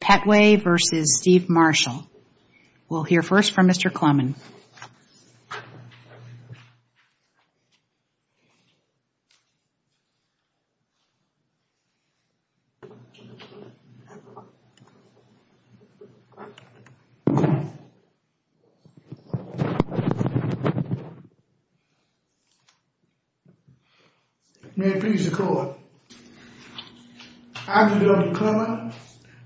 Pettway v. Steve Marshall. We'll hear first from Mr. Clemmon. May it please the court. I, Dr. Clemmon,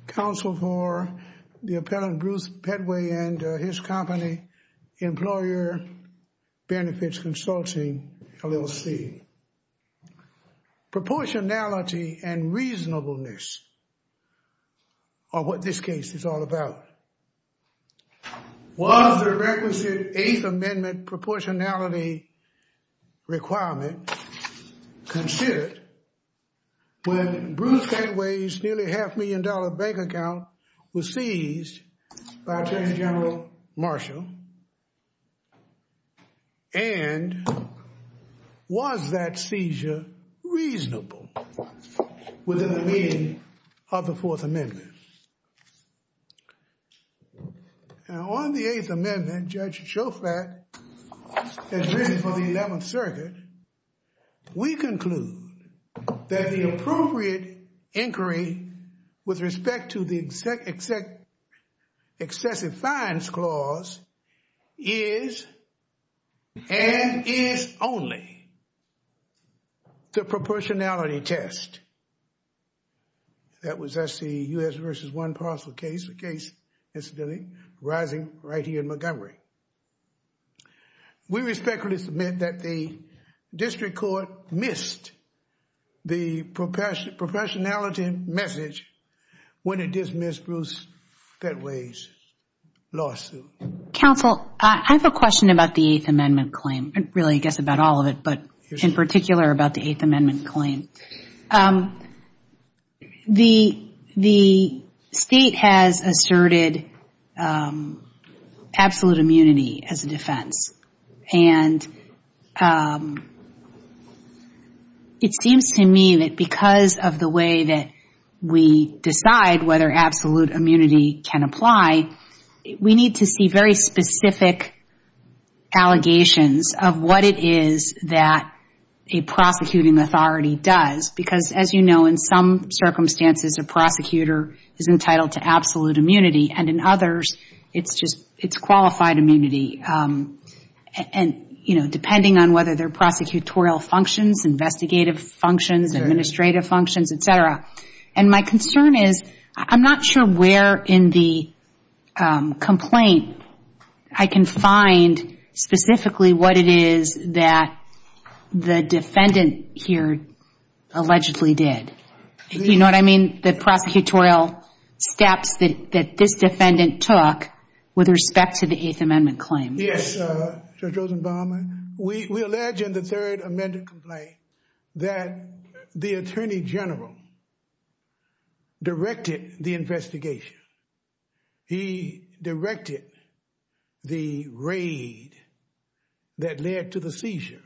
counsel for the appellant Bruce Pettway and his company Employer Benefits Consulting LLC. Proportionality and reasonableness are what this case is all about. Was the requisite Eighth Amendment proportionality requirement considered when Bruce Pettway's nearly half million dollar bank account was seized by Attorney General Marshall? And was that seizure reasonable within the meaning of the Fourth Amendment? Now, on the Eighth Amendment, Judge Shofrat has written for the Eleventh Circuit. We conclude that the appropriate inquiry with respect to the excessive fines clause is and is only the proportionality test. That was the U.S. versus one parcel case, a case incidentally arising right here in Montgomery. We respectfully submit that the district court missed the proportionality message when it dismissed Bruce Pettway's lawsuit. Counsel, I have a question about the Eighth Amendment claim. Really, I guess about all of it, but in particular about the Eighth Amendment claim. The state has asserted absolute immunity as a defense. And it seems to me that because of the way that we decide whether absolute immunity can apply, we need to see very specific allegations of what it is that a prosecuting authority does. Because as you know, in some circumstances, a prosecutor is entitled to absolute immunity. And in others, it's qualified immunity. And, you know, depending on whether they're prosecutorial functions, investigative functions, administrative functions, et cetera. And my concern is, I'm not sure where in the specifically what it is that the defendant here allegedly did. You know what I mean? The prosecutorial steps that this defendant took with respect to the Eighth Amendment claim. Yes, Judge Rosenbaum, we allege in the third amended complaint that the attorney general directed the investigation. He directed the raid that led to the seizure.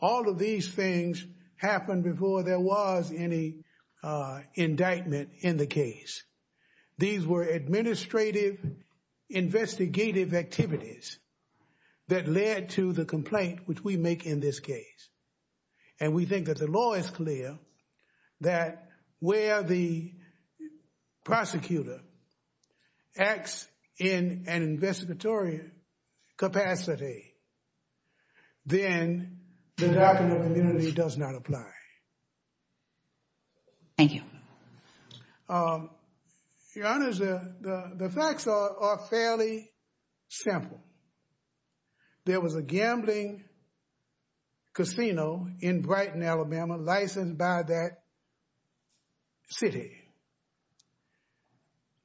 All of these things happened before there was any indictment in the case. These were administrative, investigative activities that led to the complaint which we make in this case. And we think that the law is clear that where the prosecutor acts in an investigatory capacity, then the doctrine of immunity does not apply. Thank you. Your Honor, the facts are fairly simple. There was a gambling casino in Brighton, Alabama, licensed by that city.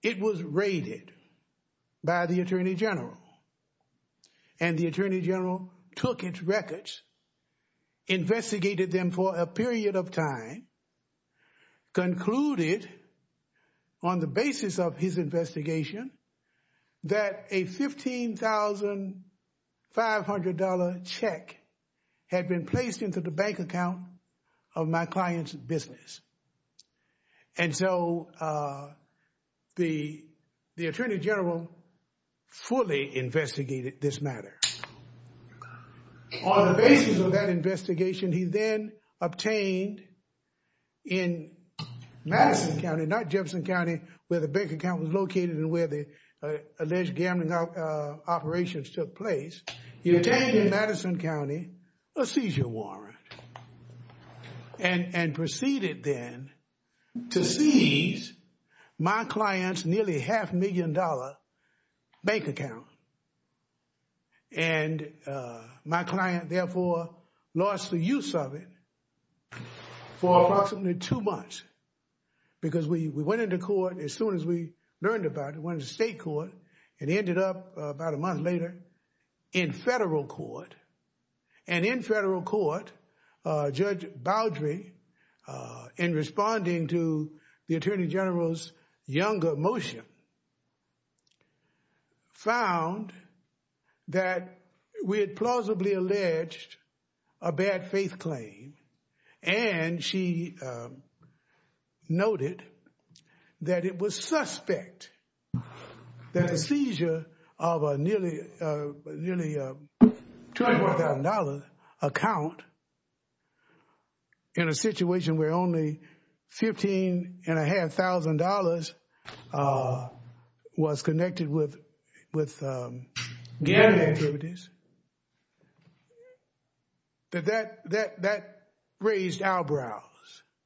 It was raided by the attorney general. And the attorney general took its records, investigated them for a period of time, concluded on the basis of his investigation that a $15,500 check had been placed into the bank account of my client's business. And so the attorney general fully investigated this matter. On the basis of that investigation, he then obtained in Madison County, not Jefferson County, where the bank account was located and where the alleged gambling operations took place, he obtained in Madison County a seizure warrant and proceeded then to seize my client's nearly half-million-dollar bank account. And my client therefore lost the use of it for approximately two months because we went into court as soon as we learned about it, the state court. It ended up about a month later in federal court. And in federal court, Judge Boudry, in responding to the attorney general's younger motion, found that we had plausibly alleged a bad faith claim. And she noted that it was suspect that a seizure of a nearly $20,000 account in a situation where only $15,500 was connected with gambling activities. That raised eyebrows.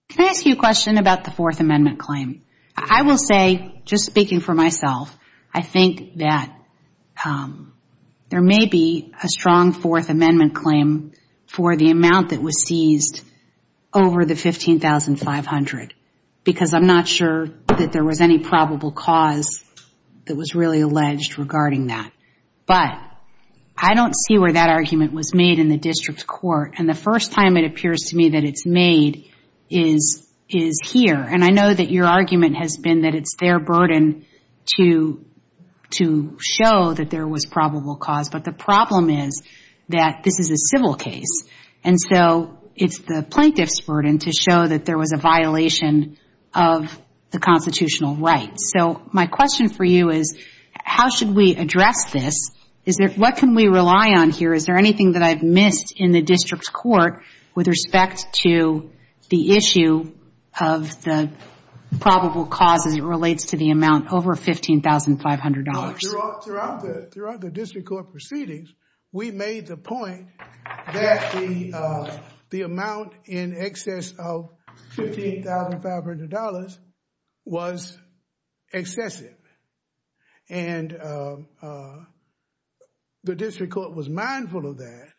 Can I ask you a question about the Fourth Amendment claim? I will say, just speaking for myself, I think that there may be a strong Fourth Amendment claim for the amount that was seized over the $15,500 because I'm not sure that there was any probable cause that was really alleged regarding that. But I don't see where that argument was made in the district court. And the first time it appears to me that it's made is here. And I know that your argument has been that it's their burden to show that there was probable cause. But the problem is that this is a civil case. And so it's the plaintiff's burden to show that there was a violation of the constitutional rights. So my question for you is, how should we address this? What can we rely on here? Is there anything that I've missed in the district court with respect to the issue of the probable cause as it relates to the amount over $15,500? Throughout the district court proceedings, we made the point that the amount in excess of $15,500 was excessive. And the district court was mindful of that.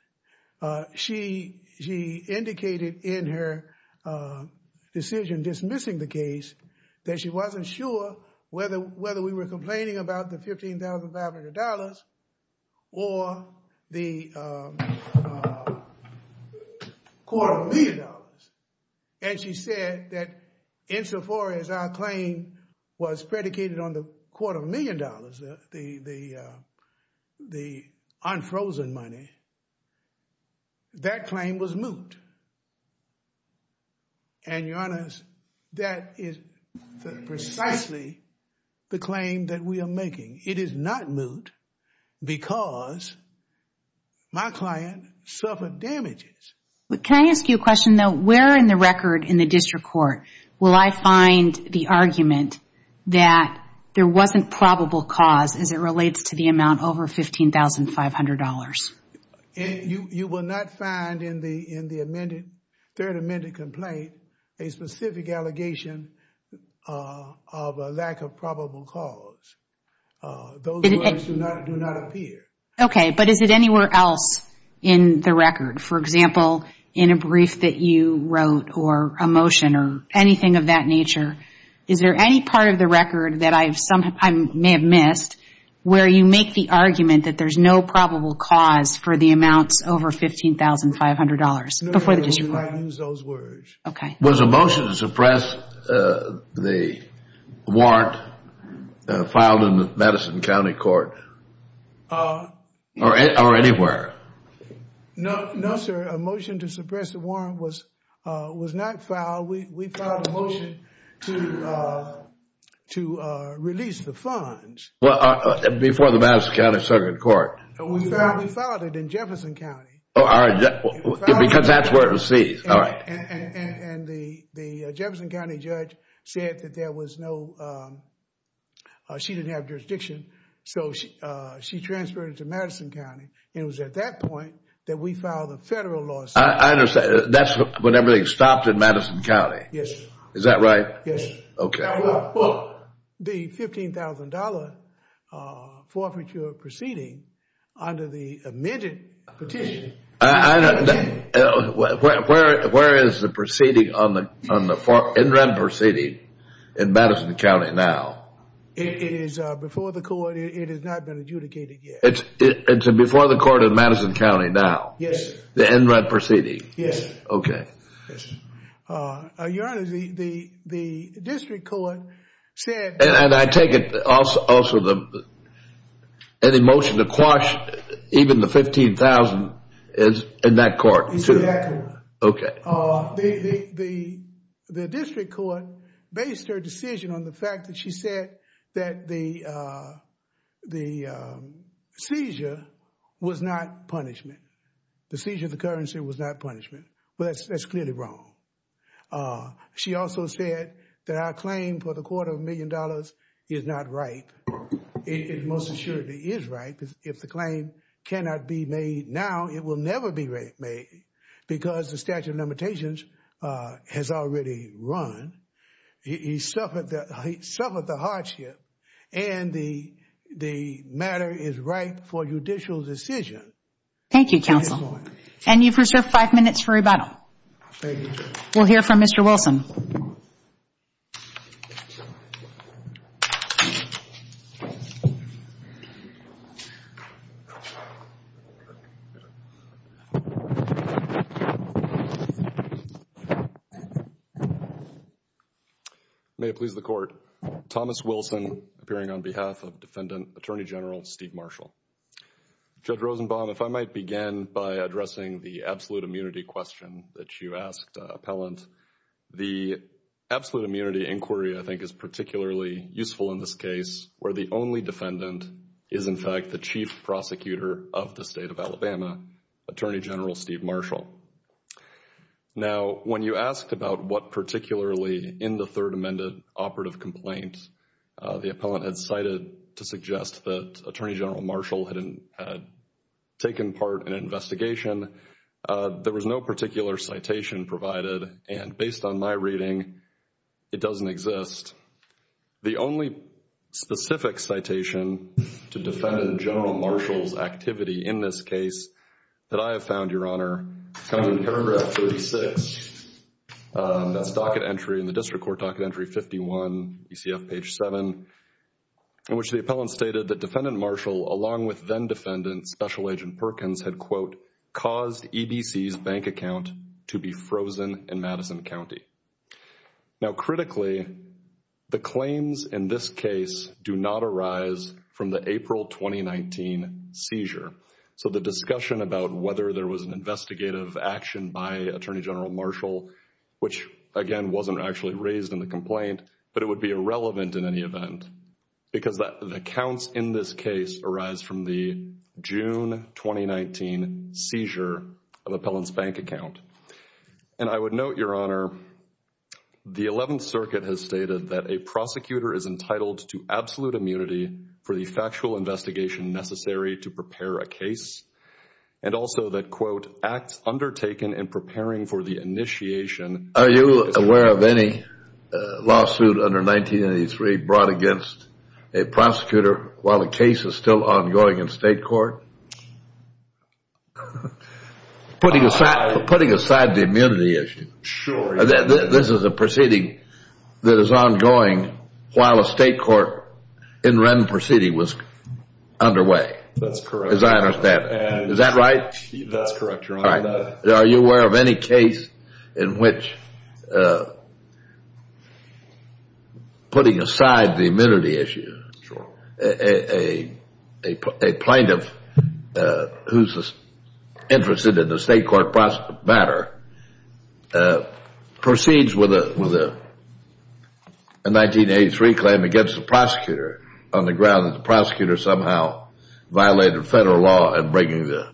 She indicated in her decision dismissing the case that she wasn't sure whether we were complaining about the $15,500 or the quarter of a million dollars. And she said that insofar as our claim was predicated on the quarter of a million dollars, the unfrozen money, that claim was moot. And your honors, that is precisely the claim that we are making. It is not moot because my client suffered damages. But can I ask you a question though? Where in the record in the district court will I find the argument that there wasn't probable cause as it relates to the amount over $15,500? And you will not find in the third amended complaint a specific allegation of a lack of probable cause. Those words do not appear. Okay. But is it anywhere else in the record? For example, in a brief that you wrote, or a motion, or anything of that nature? Is there any part of the record that I may have missed where you make the argument that there's no probable cause for the amounts over $15,500? Before the district court. You might use those words. Okay. Was a motion to suppress the warrant filed in the Madison County Court or anywhere? No, sir. A motion to suppress the warrant was not filed. We filed a motion to release the funds. Before the Madison County Second Court? We filed it in Jefferson County. Because that's where it was seized. And the Jefferson County judge said that there was no, she didn't have jurisdiction, so she transferred it to Madison County. It was at that point that we filed a federal lawsuit. I understand. That's when everything stopped in Madison County. Yes. Is that right? Yes. Okay. Well, the $15,000 forfeiture proceeding under the amended petition. Where is the proceeding on the in-red proceeding in Madison County now? It is before the court. It has not been adjudicated yet. It's before the court in Madison County now? Yes. The in-red proceeding? Yes. Okay. Your Honor, the district court said... And I take it also the motion to quash even the $15,000 is in that court too? Exactly. Okay. The district court based her decision on the fact that she said that the seizure was not punishment. The seizure of the currency was not punishment. Well, that's clearly wrong. She also said that our claim for the quarter of a million dollars is not ripe. It most assuredly is ripe. If the claim cannot be made now, it will never be made because the statute of limitations has already run. He suffered the hardship and the matter is ripe for judicial decision. Thank you, counsel. And you've reserved five minutes for rebuttal. We'll hear from Mr. Wilson. May it please the court. Thomas Wilson appearing on behalf of Defendant Attorney General Steve Marshall. Mr. Rosenbaum, if I might begin by addressing the absolute immunity question that you asked appellant. The absolute immunity inquiry I think is particularly useful in this case where the only defendant is in fact the chief prosecutor of the state of Alabama, Attorney General Steve Marshall. Now, when you asked about what particularly in the third amended operative complaints the appellant had cited to suggest that Attorney General Marshall had taken part in an investigation, there was no particular citation provided. And based on my reading, it doesn't exist. The only specific citation to Defendant General Marshall's activity in this case that I have found, Your Honor, comes in paragraph 36. That's docket entry in the district court docket entry 51, ECF page 7, in which the appellant stated that Defendant Special Agent Perkins had, quote, caused EBC's bank account to be frozen in Madison County. Now, critically, the claims in this case do not arise from the April 2019 seizure. So, the discussion about whether there was an investigative action by Attorney General Marshall, which again wasn't actually raised in the complaint, but it would be irrelevant in any 2019 seizure of appellant's bank account. And I would note, Your Honor, the 11th Circuit has stated that a prosecutor is entitled to absolute immunity for the factual investigation necessary to prepare a case and also that, quote, acts undertaken in preparing for the initiation. Are you aware of any lawsuit under 1983 brought against a prosecutor while the state court? Putting aside the immunity issue, this is a proceeding that is ongoing while a state court in rem proceeding was underway. That's correct. As I understand it. Is that right? That's correct, Your Honor. Are you aware of any case in which putting aside the immunity issue, a plaintiff who's interested in the state court matter proceeds with a 1983 claim against the prosecutor on the ground that the prosecutor somehow violated federal law in breaking the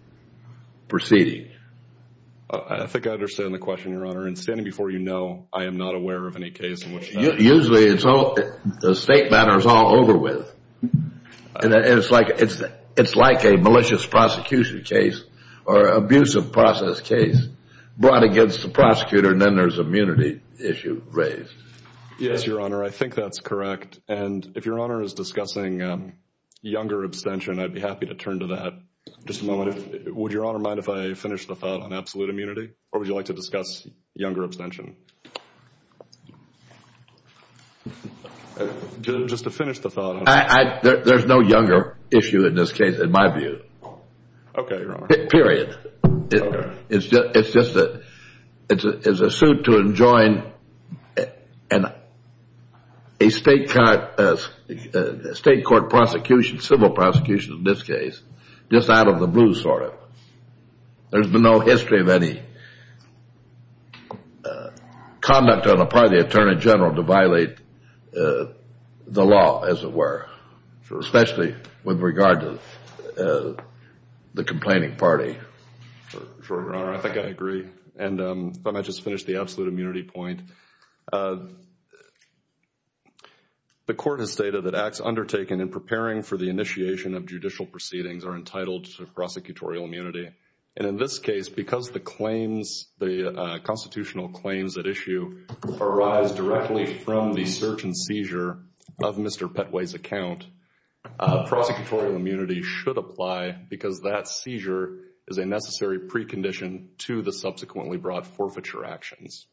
proceeding? I think I understand the question, Your Honor. And standing before you, no, I am not aware of any case in which that... Usually the state matter is all over with. It's like a malicious prosecution case or abusive process case brought against the prosecutor, and then there's immunity issue raised. Yes, Your Honor. I think that's correct. And if Your Honor is discussing younger abstention, I'd be happy to turn to that. Just a moment. Would Your Honor mind if I finish the thought on absolute immunity, or would you like to discuss younger abstention? Just to finish the thought. There's no younger issue in this case, in my view. Okay, Your Honor. Period. It's just that it's a suit to enjoin a state court prosecution, civil prosecution in this case, just out of the blue, sort of. There's been no history of any conduct on the part of the Attorney General to violate the law, as it were, especially with regard to the complaining party. Sure, Your Honor. I think I agree. And if I might just finish the absolute immunity point. The court has stated that acts undertaken in preparing for the initiation of judicial proceedings are entitled to prosecutorial immunity. And in this case, because the constitutional claims at issue arise directly from the search and seizure of Mr. Petway's account, prosecutorial immunity should apply because that seizure is a necessary precondition to the subsequently brought forfeiture actions,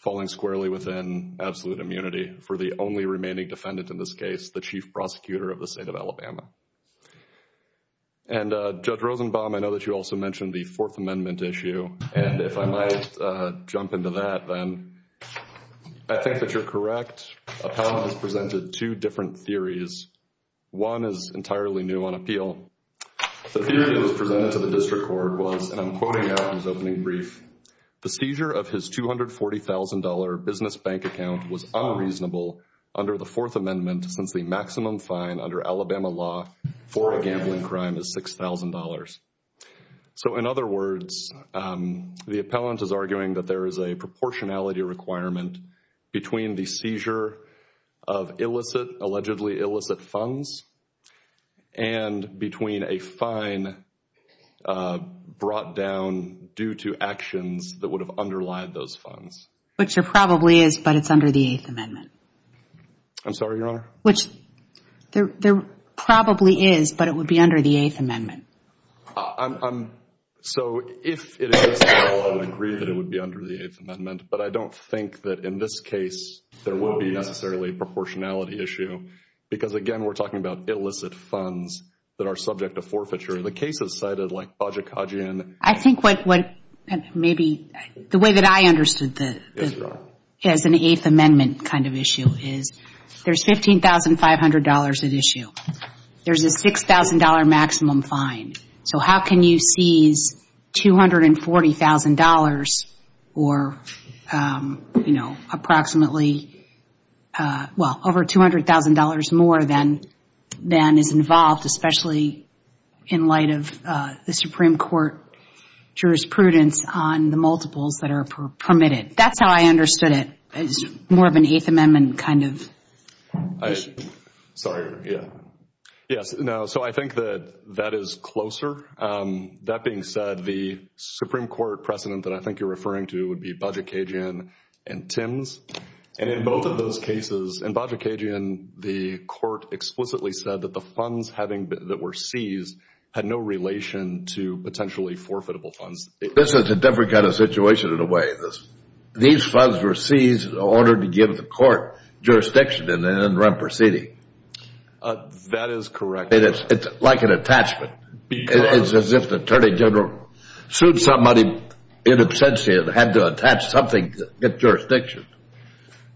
falling squarely within absolute immunity for the only remaining defendant in this case, the Chief Prosecutor of the State of Alabama. And Judge Rosenbaum, I know that you also mentioned the Fourth Amendment issue. And if I might jump into that then. I think that you're correct. Appellant has presented two different theories. One is entirely new on appeal. The the seizure of his $240,000 business bank account was unreasonable under the Fourth Amendment since the maximum fine under Alabama law for a gambling crime is $6,000. So in other words, the appellant is arguing that there is a proportionality requirement between the seizure of illicit, allegedly illicit funds, and between a fine brought down due to actions that would have underlied those funds. Which there probably is, but it's under the Eighth Amendment. I'm sorry, Your Honor? Which there probably is, but it would be under the Eighth Amendment. So if it is, I would agree that it would be under the Eighth Amendment. But I don't think that in this case, there will be necessarily a proportionality issue. Because again, we're talking about illicit funds that are subject to forfeiture. The cases cited like Bajikhajian. I think what what maybe the way that I understood the as an Eighth Amendment kind of issue is there's $15,500 at issue. There's a $6,000 maximum fine. So how can you seize $240,000 or, you know, approximately, well, over $200,000 more than is involved, especially in light of the Supreme Court jurisprudence on the multiples that are permitted. That's how I understood it. It's more of an Eighth Amendment kind of. Sorry. Yeah. Yes. No. So I think that that is closer. That being said, the Supreme Court precedent that I think you're referring to would be Bajikhajian and Tims. And in both of those cases, in Bajikhajian, the court explicitly said that the funds having that were seized had no relation to potentially forfeitable funds. This is a different kind of situation in a way. These funds were seized in order to give the court jurisdiction and then run proceeding. That is correct. It's like an attachment. It's as if the Attorney General sued somebody in absentia and had to attach something to get jurisdiction.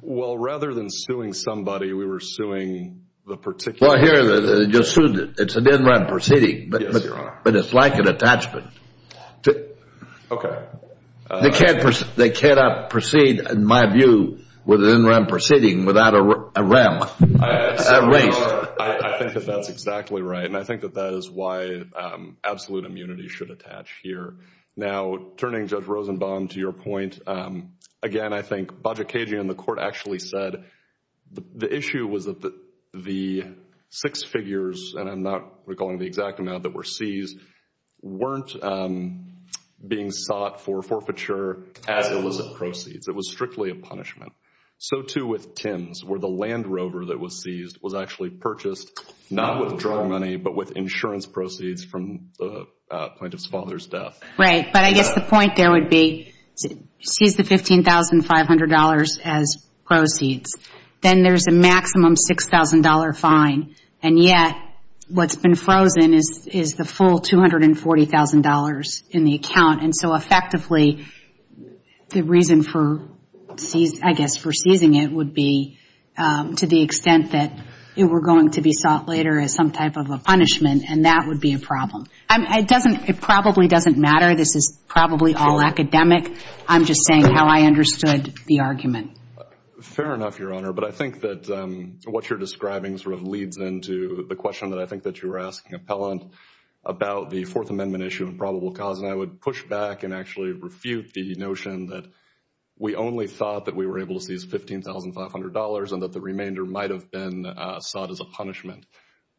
Well, rather than suing somebody, we were suing the particular person. Well, here, they just sued it. It's an in-rem proceeding. Yes, Your Honor. But it's like an attachment. Okay. They can't proceed, in my view, with an in-rem proceeding without a rem erased. I think that that's exactly right. And I think that that is why absolute immunity should attach here. Now, turning Judge Rosenbaum to your point, again, I think Bajikhajian and the court actually said the issue was that the six figures, and I'm not recalling the exact amount that were seized, weren't being sought for forfeiture as illicit proceeds. It was strictly a punishment. So too with Tims, where the Land Rover that was seized was actually purchased, not with drug money, but with insurance proceeds from the plaintiff's father's death. Right. But I guess the point there would be, seize the $15,500 as proceeds. Then there's a maximum $6,000 fine. And yet, what's been frozen is the full $240,000 in the account. And so effectively, the reason for, I guess, for seizing it would be to the extent that it were going to be sought later as some type of a punishment. And that would be a problem. It probably doesn't matter. This is probably all academic. I'm just saying how I understood the argument. Fair enough, Your Honor. But I think that what you're describing sort of leads into the question that I think that you were asking, Appellant, about the Fourth Amendment issue of the notion that we only thought that we were able to seize $15,500 and that the remainder might have been sought as a punishment.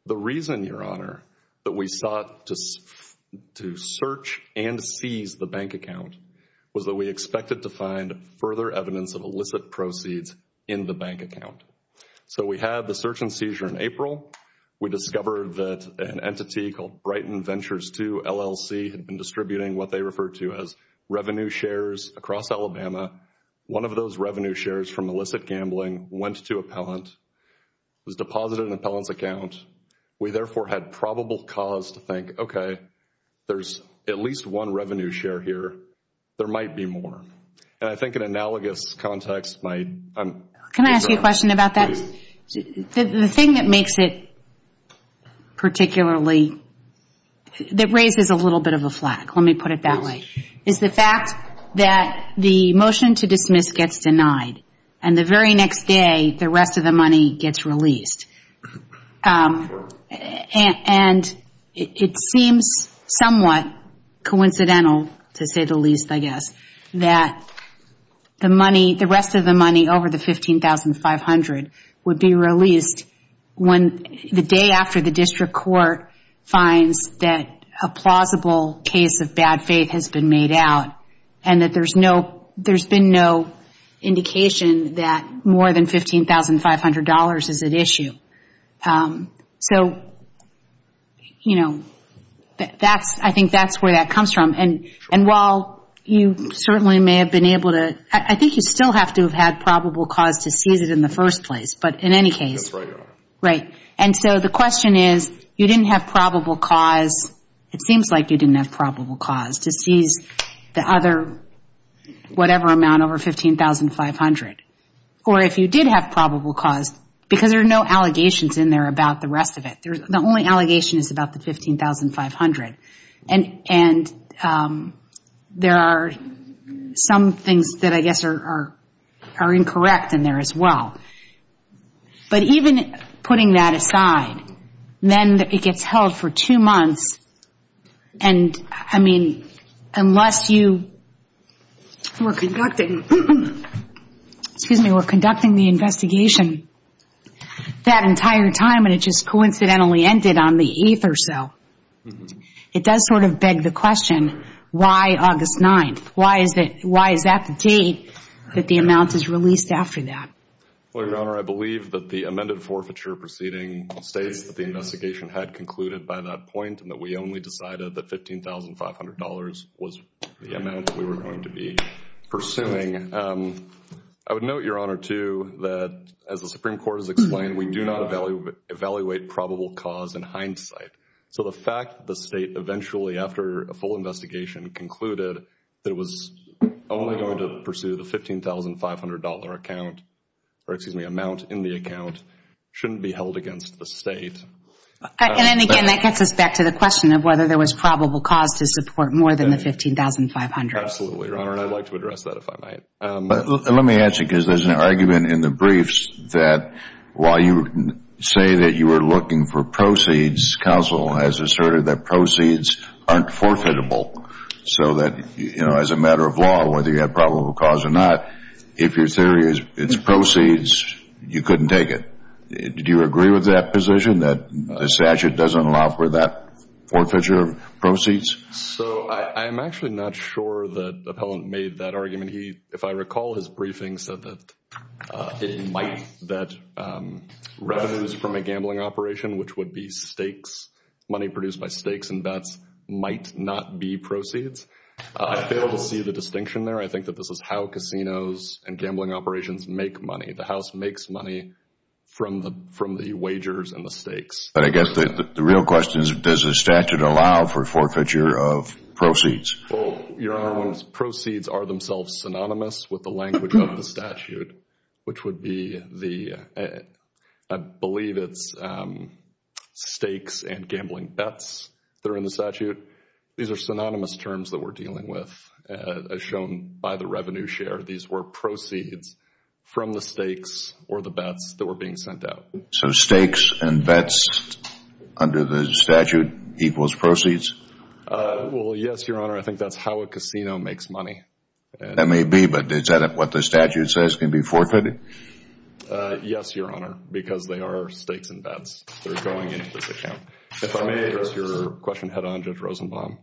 The reason, Your Honor, that we sought to search and seize the bank account was that we expected to find further evidence of illicit proceeds in the bank account. So we had the search and seizure in April. We discovered that an entity called Brighton LLC had been distributing what they referred to as revenue shares across Alabama. One of those revenue shares from illicit gambling went to Appellant, was deposited in Appellant's account. We therefore had probable cause to think, okay, there's at least one revenue share here. There might be more. And I think an analogous context might... Can I ask you a question about that? The thing that makes it particularly, that raises a little bit of a flag, let me put it that way, is the fact that the motion to dismiss gets denied. And the very next day, the rest of the money gets released. And it seems somewhat coincidental, to say the least, I guess, that the rest of the money over the $15,500 would be released the day after the district court finds that a plausible case of bad faith has been made out and that there's been no indication that more than $15,500 is at issue. So, you know, I think that's where that comes from. And while you certainly may have been able to... I think you still have to have had probable cause to seize it in the first place, but in any case... That's right, yeah. Right. And so the question is, you didn't have probable cause, it seems like you didn't have probable cause to seize the other whatever amount over $15,500. Or if you did have probable cause, because there are no allegations in there about the rest of it. The only allegation is about the $15,500. And there are some things that I guess are incorrect in there as well. But even putting that aside, then it gets held for two months. And I mean, unless you were conducting the investigation that entire time, and it just coincidentally ended on the 8th or so, it does sort of beg the question, why August 9th? Why is that the date that the amount is released after that? Well, Your Honor, I believe that the amended forfeiture proceeding states that the investigation had concluded by that point and that we only decided that $15,500 was the amount that we were going to be pursuing. I would note, Your Honor, too, that as the Supreme Court has explained, we do not evaluate probable cause in hindsight. So the fact that the state eventually, after a full investigation, concluded that it was only going to pursue the $15,500 account, or excuse me, amount in the account shouldn't be held against the state. And then again, that gets us back to the probable cause to support more than the $15,500. Absolutely, Your Honor. And I'd like to address that if I might. Let me ask you, because there's an argument in the briefs that while you say that you were looking for proceeds, counsel has asserted that proceeds aren't forfeitable. So that as a matter of law, whether you have probable cause or not, if your theory is it's proceeds, you couldn't take it. Do you agree with that position that the statute doesn't allow for forfeiture of proceeds? So I'm actually not sure that the appellant made that argument. He, if I recall, his briefing said that it might, that revenues from a gambling operation, which would be stakes, money produced by stakes and bets, might not be proceeds. I fail to see the distinction there. I think that this is how casinos and gambling operations make money. The wagers and the stakes. But I guess the real question is, does the statute allow for forfeiture of proceeds? Well, Your Honor, proceeds are themselves synonymous with the language of the statute, which would be the, I believe it's stakes and gambling bets that are in the statute. These are synonymous terms that we're dealing with, as shown by the revenue share. These were stakes and bets under the statute equals proceeds? Well, yes, Your Honor. I think that's how a casino makes money. That may be, but is that what the statute says can be forfeited? Yes, Your Honor, because they are stakes and bets. They're going into this account. If I may ask your question head on, Judge Rosenbaum.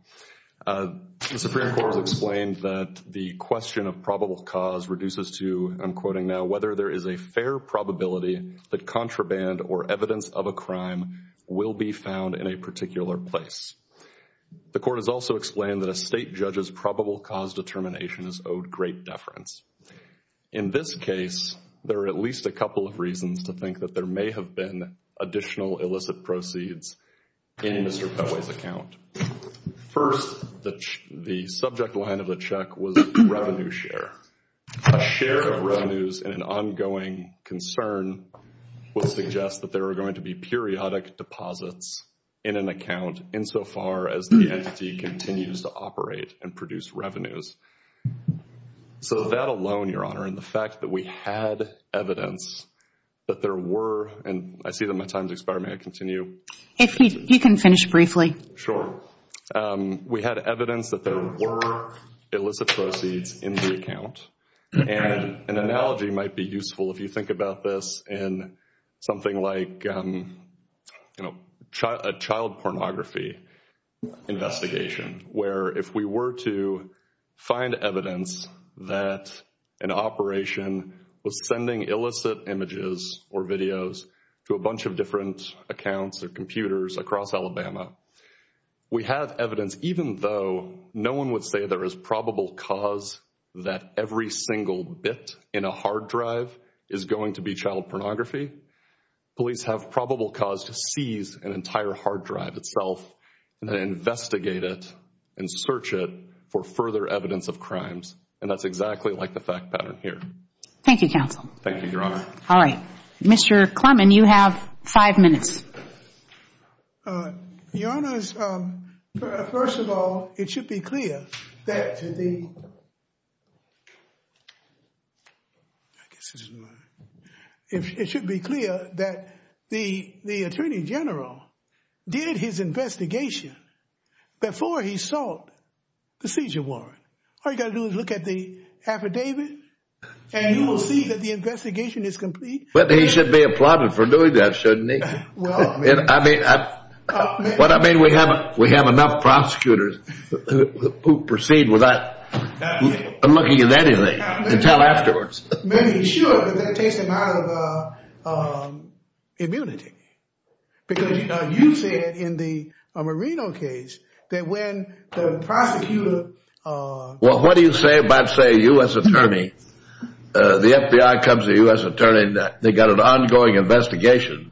The Supreme Court has explained that the question of probable cause reduces to, I'm quoting now, whether there is a fair probability that contraband or evidence of a crime will be found in a particular place. The court has also explained that a state judge's probable cause determination is owed great deference. In this case, there are at least a couple of reasons to think that there may have been additional illicit proceeds in Mr. Pebway's account. A share of revenues and an ongoing concern will suggest that there are going to be periodic deposits in an account insofar as the entity continues to operate and produce revenues. So that alone, Your Honor, and the fact that we had evidence that there were, and I see that my time's expiring. May I continue? If you can finish briefly. Sure. We had evidence that there were illicit proceeds in the account. An analogy might be useful if you think about this in something like a child pornography investigation, where if we were to find evidence that an operation was sending illicit images or videos to a bunch of different accounts or computers across Alabama, we have evidence, even though no one would say there is probable cause that every single bit in a hard drive is going to be child pornography, police have probable cause to seize an entire hard drive itself and investigate it and search it for further evidence of crimes. And that's exactly like the fact pattern here. Thank you, counsel. Thank you, Your Honor. All right. Mr. Clemon, you have five minutes. Your Honor, first of all, it should be clear that the, I guess this is mine, it should be clear that the Attorney General did his investigation before he sought the seizure warrant. All you got to do is look at the affidavit and you will see the investigation is complete. But he should be applauded for doing that, shouldn't he? What I mean, we have enough prosecutors who proceed without looking at anything until afterwards. Maybe he should, but that takes him out of immunity. Because you said in the Marino case that when the prosecutor... Well, what do you say about, say, a U.S. attorney, the FBI comes to the U.S. attorney, they got an ongoing investigation,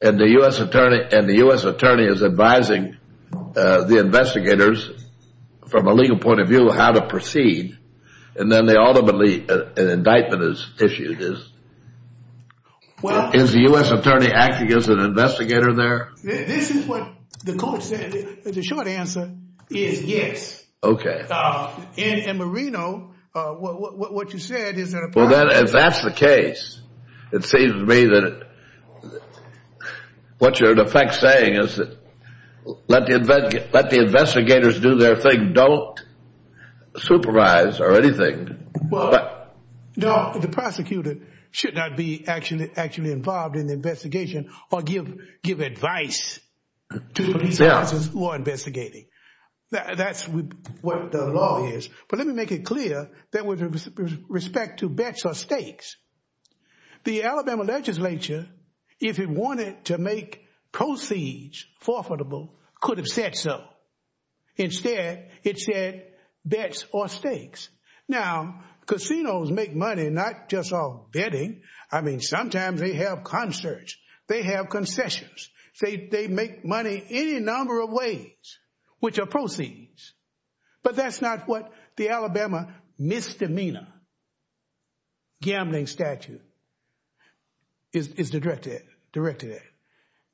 and the U.S. attorney is advising the investigators from a legal point of view how to proceed. And then they ultimately, an indictment is issued. Is the U.S. attorney acting as an investigator there? This is what the court said. The short answer is yes. Okay. In Marino, what you said is that... Well, if that's the case, it seems to me that what you're in effect saying is that let the investigators do their thing, don't supervise or anything. No, the prosecutor should not be actually involved in the investigation or give advice to the police officers who are investigating. That's what the law is. But let me make it clear that with respect to bets or stakes, the Alabama legislature, if it wanted to make proceeds forfeitable, could have said so. Instead, it said bets or stakes. Now, casinos make money not just off betting. I mean, sometimes they have concerts. They have concessions. They make money any number of ways, which are proceeds. But that's not what the Alabama misdemeanor gambling statute is directed at.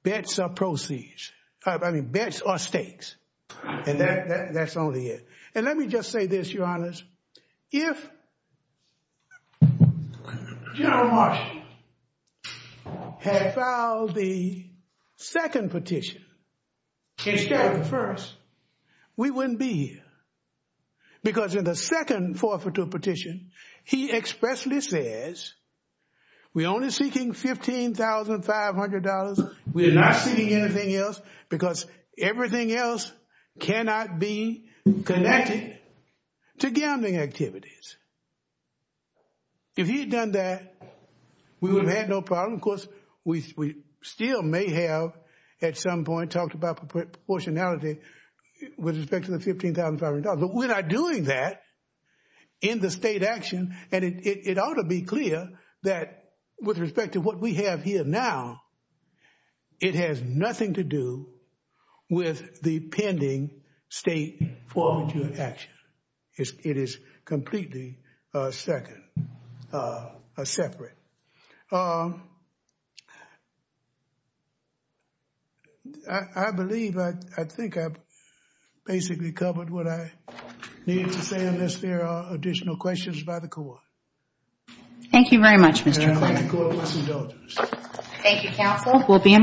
Bets are proceeds. I mean, bets are stakes. And that's only it. And let me just say this, Your Honors. If General Marshall had filed the second petition instead of the first, we wouldn't be here. Because in the second forfeitable petition, he expressly says, we're only seeking $15,500. We're not seeking anything else because everything else cannot be connected to gambling activities. If he had done that, we would have had no problem. Of course, we still may have at some point talked about proportionality with respect to the $15,500. But we're not doing that in the state action. And it ought to be clear that with respect to what we do in action, it is completely separate. I believe, I think I've basically covered what I needed to say unless there are additional questions by the court. Thank you very much, Mr. Clark. And may the court bless indulgence. Thank you, counsel. We'll be in recess. Thank you.